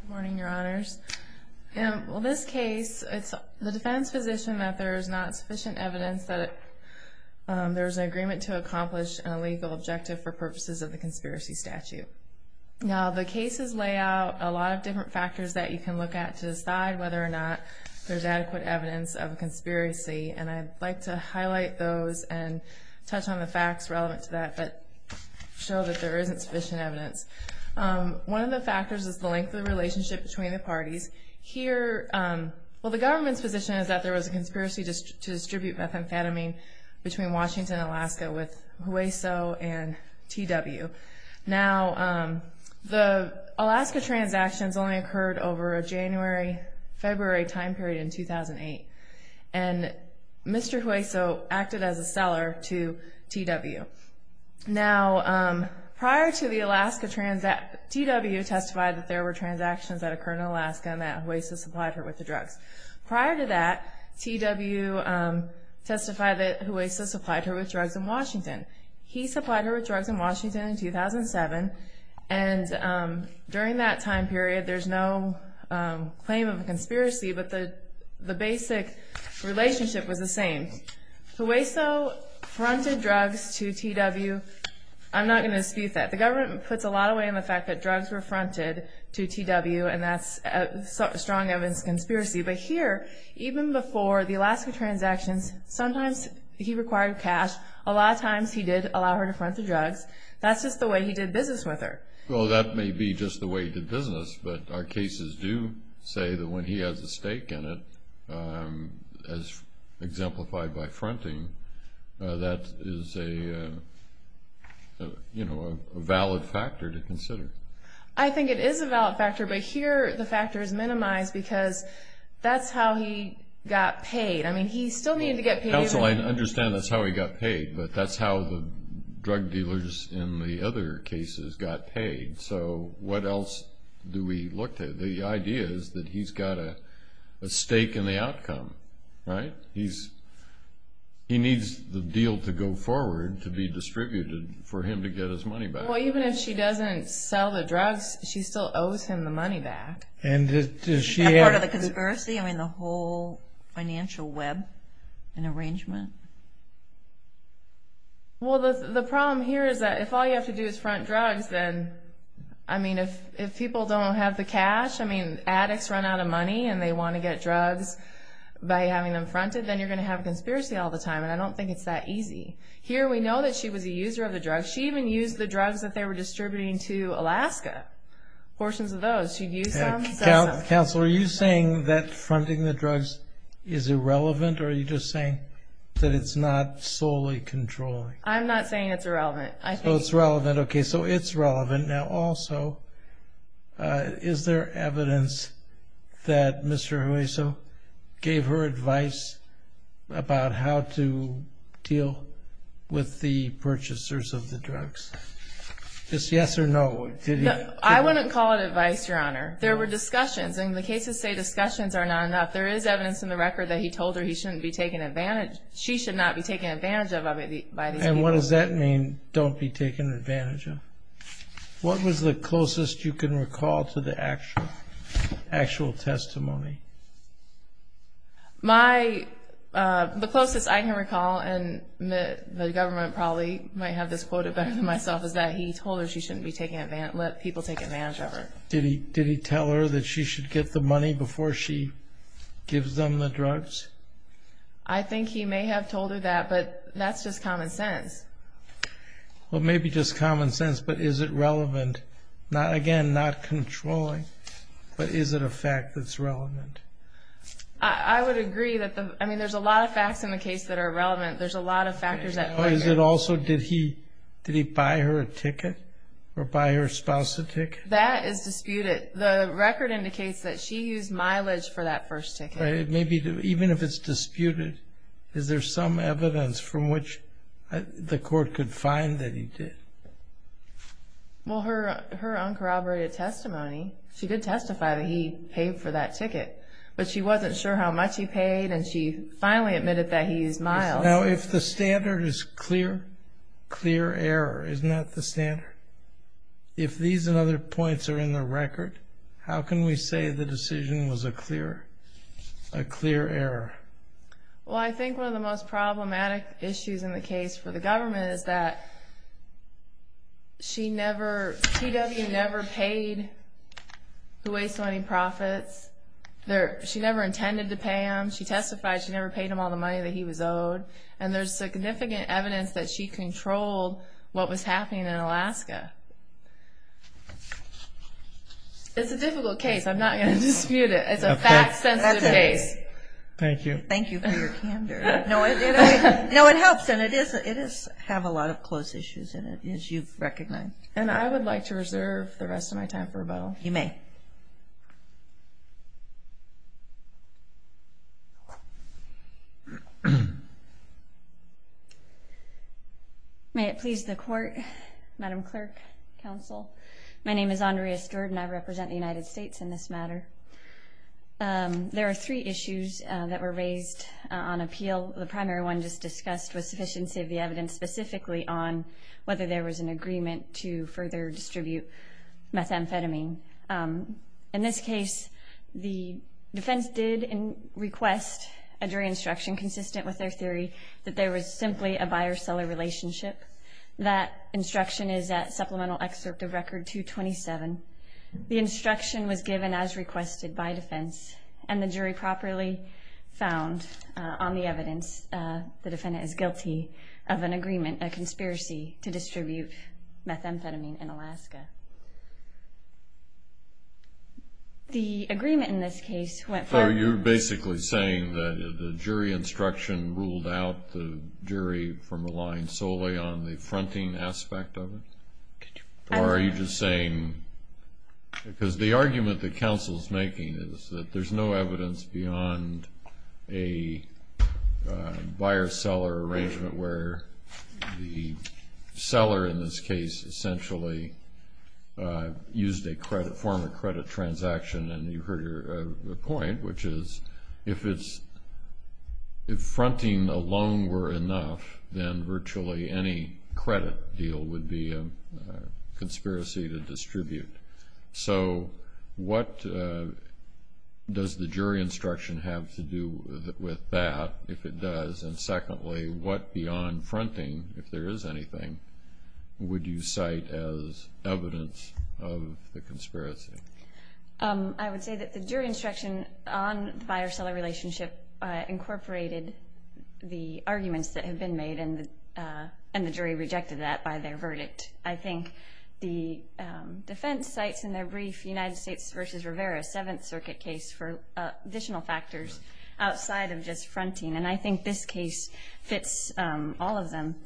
Good morning, your honors. In this case, it's the defense position that there is not sufficient evidence that there's an agreement to accomplish a legal objective for purposes of the conspiracy statute. Now, the cases lay out a lot of different factors that you can look at to decide whether or not there's adequate evidence of a conspiracy, and I'd like to highlight those and touch on the facts relevant to that, but show that there isn't sufficient evidence. One of the factors is the length of the relationship between the parties. Here, well, the government's position is that there was a conspiracy to distribute methamphetamine between Washington and Alaska with Hueso and TW. Now, the Alaska transactions only occurred over a January-February time period in 2008, and Mr. Hueso acted as a seller to TW. Now, prior to the Alaska transaction, TW testified that there were transactions that occurred in Alaska and that Hueso supplied her with the drugs. Prior to that, TW testified that Hueso supplied her with drugs in Washington. He supplied her with drugs in Washington in 2007, and during that time period, there's no claim of a conspiracy, but the basic relationship was the same. Hueso fronted drugs to TW. I'm not going to dispute that. The government puts a lot of weight on the fact that drugs were fronted to TW, and that's a strong evidence of conspiracy, but here, even before the Alaska transactions, sometimes he required cash. A lot of times, he did allow her to front the drugs. That's just the way he did business with her. Well, that may be just the way he did business, but our cases do say that when he has a stake in it, as exemplified by fronting, that is a valid factor to consider. I think it is a valid factor, but here, the factor is minimized because that's how he got paid. I mean, he still needed to get paid. Counsel, I understand that's how he got paid, but that's how the drug dealers in the other cases got paid, so what else do we look to? The idea is that he's got a stake in the outcome, right? He needs the deal to go forward to be distributed for him to get his money back. Well, even if she doesn't sell the drugs, she still owes him the money back. Is that part of the conspiracy? I mean, the whole financial web and arrangement? Well, the problem here is that if all you have to do is front drugs, then, I mean, if people don't have the cash, I mean, addicts run out of money and they want to get drugs by having them fronted, then you're going to have a conspiracy all the time, and I don't think it's that easy. Here, we know that she was a user of the drugs. She even used the drugs that they were distributing to Alaska, portions of those. Counsel, are you saying that fronting the drugs is irrelevant, or are you just saying that it's not solely controlling? I'm not saying it's irrelevant. Oh, it's relevant. Okay, so it's relevant. Now, also, is there evidence that Mr. Hueso gave her advice about how to deal with the purchasers of the drugs? Is yes or no? I wouldn't call it advice, Your Honor. There were discussions, and the cases say discussions are not enough. There is evidence in the record that he told her she should not be taken advantage of by these people. And what does that mean, don't be taken advantage of? What was the closest you can recall to the actual testimony? The closest I can recall, and the government probably might have this quoted better than myself, is that he told her she shouldn't let people take advantage of her. Did he tell her that she should get the money before she gives them the drugs? I think he may have told her that, but that's just common sense. Well, it may be just common sense, but is it relevant? Again, not controlling, but is it a fact that's relevant? I would agree. I mean, there's a lot of facts in the case that are relevant. There's a lot of factors at play. Also, did he buy her a ticket, or buy her spouse a ticket? That is disputed. The record indicates that she used mileage for that first ticket. Even if it's disputed, is there some evidence from which the court could find that he did? Well, her uncorroborated testimony, she did testify that he paid for that ticket. But she wasn't sure how much he paid, and she finally admitted that he used mileage. Now, if the standard is clear, clear error is not the standard. If these and other points are in the record, how can we say the decision was a clear error? Well, I think one of the most problematic issues in the case for the government is that she never, PW never paid the waste money profits. She never intended to pay him. She testified she never paid him all the money that he was owed. And there's significant evidence that she controlled what was happening in Alaska. It's a difficult case. I'm not going to dispute it. It's a fact-sensitive case. Thank you. Thank you for your candor. No, it helps, and it does have a lot of close issues in it, as you've recognized. And I would like to reserve the rest of my time for rebuttal. You may. May it please the Court, Madam Clerk, Counsel, my name is Andrea Steward, and I represent the United States in this matter. There are three issues that were raised on appeal. The primary one just discussed was sufficiency of the evidence, specifically on whether there was an agreement to further distribute methamphetamine. In this case, the defense did request a jury instruction consistent with their theory that there was simply a buyer-seller relationship. That instruction is at Supplemental Excerpt of Record 227. The instruction was given as requested by defense, and the jury properly found on the evidence the defendant is guilty of an agreement, a conspiracy to distribute methamphetamine in Alaska. The agreement in this case went for- So you're basically saying that the jury instruction ruled out the jury from relying solely on the fronting aspect of it? Or are you just saying- because the argument that counsel's making is that there's no evidence beyond a buyer-seller arrangement where the seller, in this case, essentially used a form of credit transaction, and you heard the point, which is if fronting alone were enough, then virtually any credit deal would be a conspiracy to distribute. So what does the jury instruction have to do with that, if it does? And secondly, what beyond fronting, if there is anything, would you cite as evidence of the conspiracy? I would say that the jury instruction on the buyer-seller relationship incorporated the arguments that had been made, and the jury rejected that by their verdict. I think the defense cites in their brief, United States v. Rivera, a Seventh Circuit case for additional factors outside of just fronting, and I think this case fits all of them.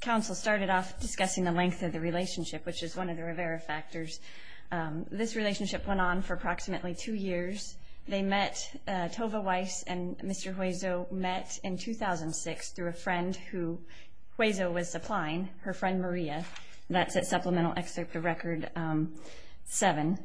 Counsel started off discussing the length of the relationship, which is one of the Rivera factors. This relationship went on for approximately two years. They met, Tova Weiss and Mr. Hueso met in 2006 through a friend who, Hueso was supplying, her friend Maria. That's at Supplemental Excerpt of Record 7.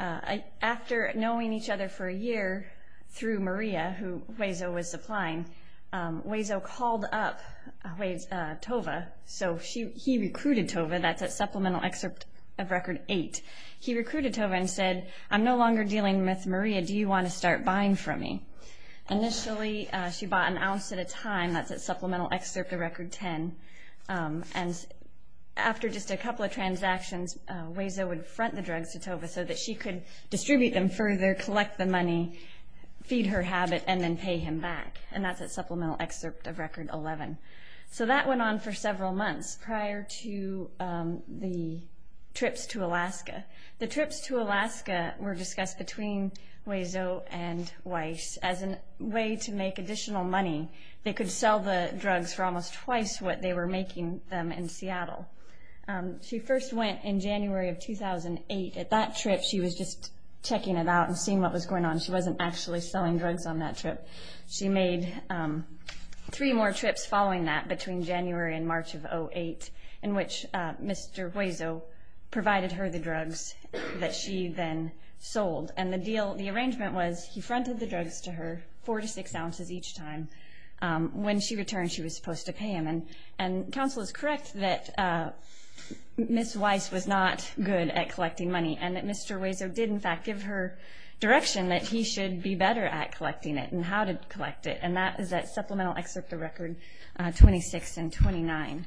After knowing each other for a year through Maria, who Hueso was supplying, Hueso called up Tova, so he recruited Tova. That's at Supplemental Excerpt of Record 8. He recruited Tova and said, I'm no longer dealing with Maria. Do you want to start buying from me? Initially, she bought an ounce at a time. That's at Supplemental Excerpt of Record 10. After just a couple of transactions, Hueso would front the drugs to Tova so that she could distribute them further, collect the money, feed her habit, and then pay him back. That's at Supplemental Excerpt of Record 11. That went on for several months prior to the trips to Alaska. The trips to Alaska were discussed between Hueso and Weiss as a way to make additional money. They could sell the drugs for almost twice what they were making them in Seattle. She first went in January of 2008. At that trip, she was just checking it out and seeing what was going on. She wasn't actually selling drugs on that trip. She made three more trips following that between January and March of 2008 in which Mr. Hueso provided her the drugs that she then sold. The arrangement was he fronted the drugs to her, four to six ounces each time. When she returned, she was supposed to pay him. Counsel is correct that Ms. Weiss was not good at collecting money and that Mr. Hueso did, in fact, give her direction that he should be better at collecting it and how to collect it, and that is at Supplemental Excerpt of Record 26 and 29.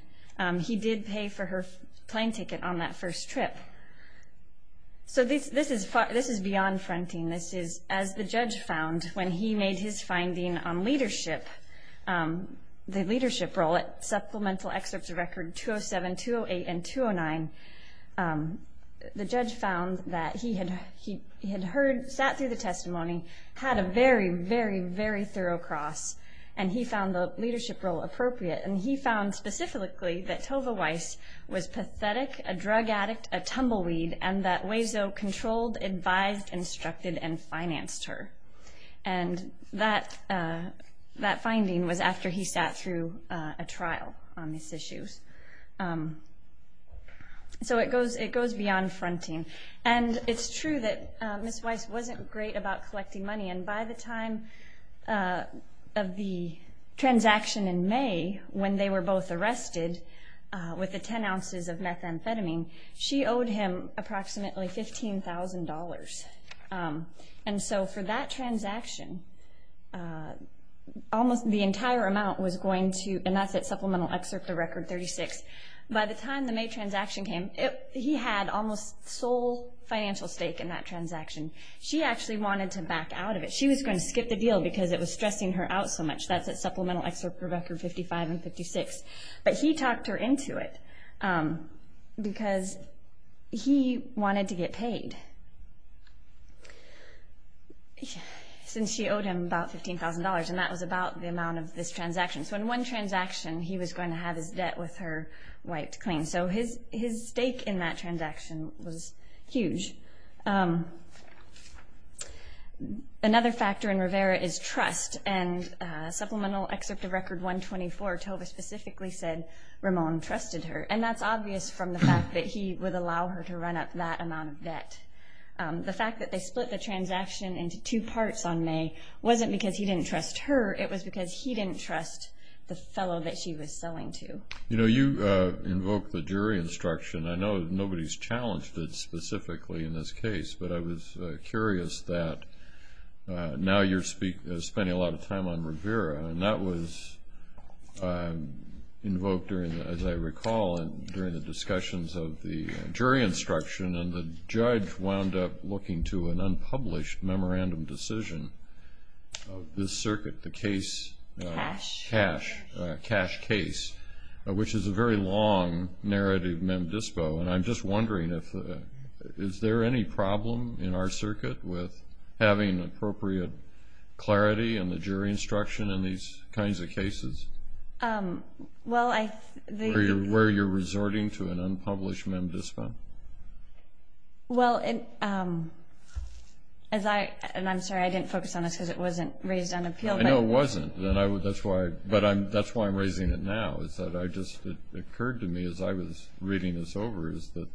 He did pay for her plane ticket on that first trip. This is beyond fronting. This is as the judge found when he made his finding on leadership, the leadership role at Supplemental Excerpts of Record 207, 208, and 209. The judge found that he had sat through the testimony, had a very, very, very thorough cross, and he found the leadership role appropriate. And he found specifically that Tova Weiss was pathetic, a drug addict, a tumbleweed, and that Hueso controlled, advised, instructed, and financed her. And that finding was after he sat through a trial on these issues. So it goes beyond fronting. And it's true that Ms. Weiss wasn't great about collecting money, and by the time of the transaction in May when they were both arrested with the 10 ounces of methamphetamine, she owed him approximately $15,000. And so for that transaction, almost the entire amount was going to, and that's at Supplemental Excerpt of Record 36. By the time the May transaction came, he had almost sole financial stake in that transaction. She actually wanted to back out of it. She was going to skip the deal because it was stressing her out so much. That's at Supplemental Excerpt of Record 55 and 56. But he talked her into it because he wanted to get paid since she owed him about $15,000, and that was about the amount of this transaction. So in one transaction, he was going to have his debt with her wiped clean. So his stake in that transaction was huge. Another factor in Rivera is trust. And Supplemental Excerpt of Record 124, Tova specifically said Ramon trusted her. And that's obvious from the fact that he would allow her to run up that amount of debt. The fact that they split the transaction into two parts on May wasn't because he didn't trust her. It was because he didn't trust the fellow that she was selling to. You know, you invoked the jury instruction. I know nobody's challenged it specifically in this case, but I was curious that now you're spending a lot of time on Rivera. And that was invoked, as I recall, during the discussions of the jury instruction, and the judge wound up looking to an unpublished memorandum decision of this circuit, the case Cash Case, which is a very long narrative mem dispo. And I'm just wondering, is there any problem in our circuit with having appropriate clarity and the jury instruction in these kinds of cases? Where you're resorting to an unpublished mem dispo? Well, as I – and I'm sorry, I didn't focus on this because it wasn't raised on appeal. I know it wasn't, but that's why I'm raising it now. It just occurred to me as I was reading this over is that,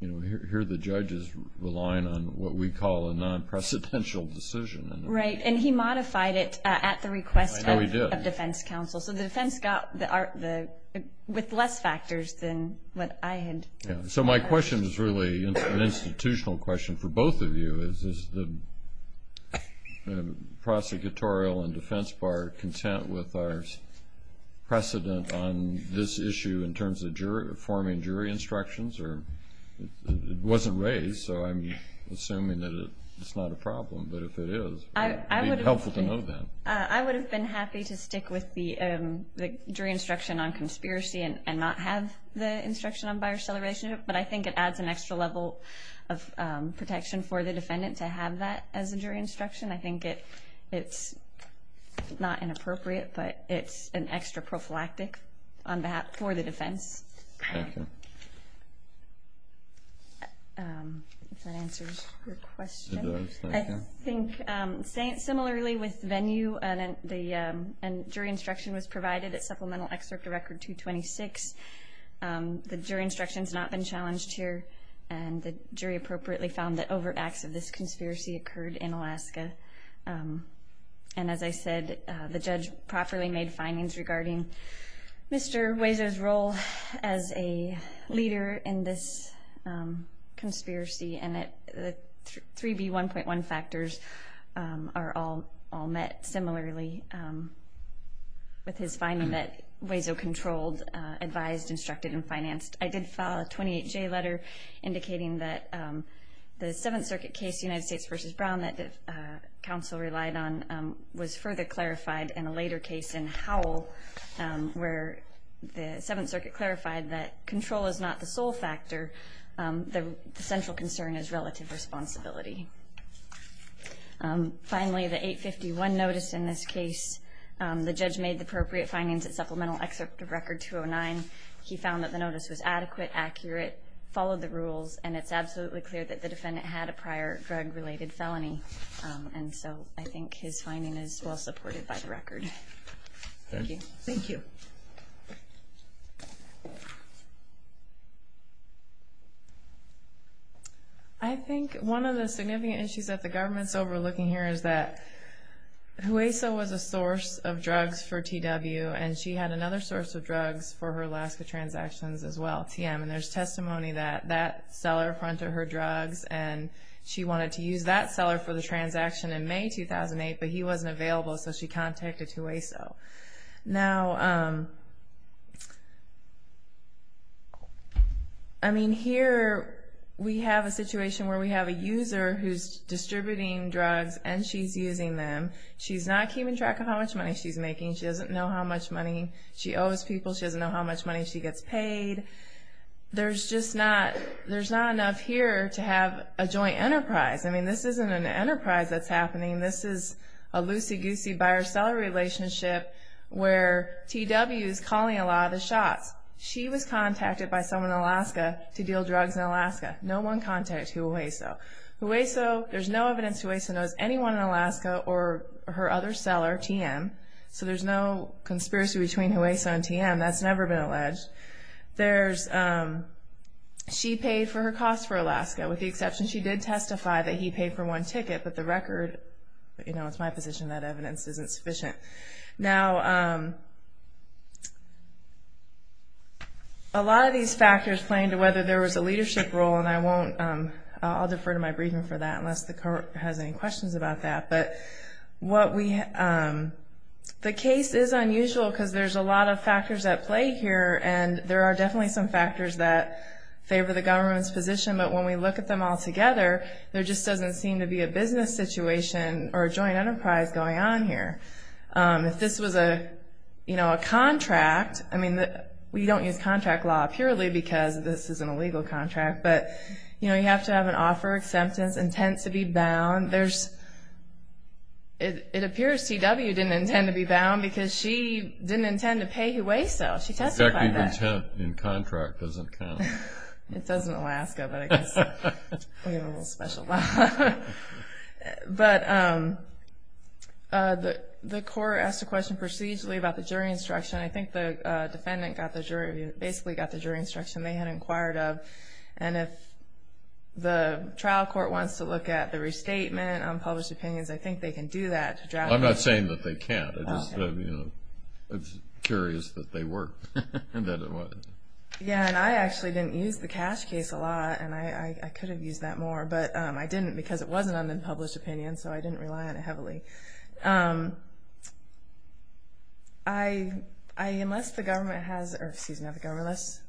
you know, here the judge is relying on what we call a non-precedential decision. Right, and he modified it at the request of defense counsel. I know he did. So the defense got the – with less factors than what I had. So my question is really an institutional question for both of you. Is the prosecutorial and defense bar content with our precedent on this issue in terms of forming jury instructions? It wasn't raised, so I'm assuming that it's not a problem. But if it is, it would be helpful to know that. I would have been happy to stick with the jury instruction on conspiracy and not have the instruction on buyer celebration, but I think it adds an extra level of protection for the defendant to have that as a jury instruction. I think it's not inappropriate, but it's an extra prophylactic for the defense. Thank you. If that answers your question. It does, thank you. I think similarly with venue and jury instruction was provided at supplemental excerpt of Record 226. The jury instruction has not been challenged here, and the jury appropriately found that overt acts of this conspiracy occurred in Alaska. And as I said, the judge properly made findings regarding Mr. Wazer's role as a leader in this conspiracy, and the 3B1.1 factors are all met similarly with his finding that Wazer controlled, advised, instructed, and financed. I did file a 28J letter indicating that the Seventh Circuit case, United States v. Brown, that the counsel relied on, was further clarified in a later case in Howell, where the Seventh Circuit clarified that control is not the sole factor. The central concern is relative responsibility. Finally, the 851 notice in this case, the judge made the appropriate findings at supplemental excerpt of Record 209. He found that the notice was adequate, accurate, followed the rules, and it's absolutely clear that the defendant had a prior drug-related felony. And so I think his finding is well supported by the record. Thank you. Thank you. Thank you. I think one of the significant issues that the government's overlooking here is that Hueso was a source of drugs for TW, and she had another source of drugs for her Alaska transactions as well, TM. And there's testimony that that seller fronted her drugs, and she wanted to use that seller for the transaction in May 2008, but he wasn't available, so she contacted Hueso. Now, I mean, here we have a situation where we have a user who's distributing drugs, and she's using them. She's not keeping track of how much money she's making. She doesn't know how much money she owes people. She doesn't know how much money she gets paid. There's just not enough here to have a joint enterprise. I mean, this isn't an enterprise that's happening. This is a loosey-goosey buyer-seller relationship where TW is calling a lot of the shots. She was contacted by someone in Alaska to deal drugs in Alaska. No one contacted Hueso. Hueso, there's no evidence Hueso knows anyone in Alaska or her other seller, TM, so there's no conspiracy between Hueso and TM. That's never been alleged. She paid for her costs for Alaska, with the exception she did testify that he paid for one ticket, but the record, you know, it's my position that evidence isn't sufficient. Now, a lot of these factors play into whether there was a leadership role, and I'll defer to my briefing for that unless the court has any questions about that. But the case is unusual because there's a lot of factors at play here, and there are definitely some factors that favor the government's position, but when we look at them all together, there just doesn't seem to be a business situation or a joint enterprise going on here. If this was, you know, a contract, I mean, we don't use contract law purely because this isn't a legal contract, but, you know, you have to have an offer, acceptance, intent to be bound. It appears TW didn't intend to be bound because she didn't intend to pay Hueso. She testified that. Intent in contract doesn't count. It does in Alaska, but I guess we have a little special law. But the court asked a question procedurally about the jury instruction. I think the defendant basically got the jury instruction they had inquired of, and if the trial court wants to look at the restatement on published opinions, I think they can do that. I'm not saying that they can't. I'm just curious that they were and that it was. Yeah, and I actually didn't use the cash case a lot, and I could have used that more, but I didn't because it wasn't on the published opinion, so I didn't rely on it heavily. Unless the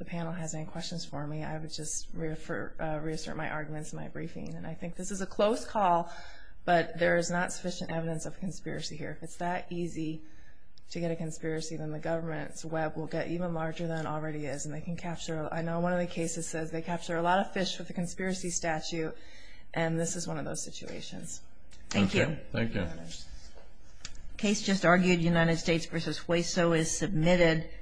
panel has any questions for me, I would just reassert my arguments in my briefing, and I think this is a close call, but there is not sufficient evidence of conspiracy here. If it's that easy to get a conspiracy, then the government's web will get even larger than it already is, and they can capture it. I know one of the cases says they capture a lot of fish with a conspiracy statute, and this is one of those situations. Thank you. Thank you. Case just argued, United States v. Hueso is submitted.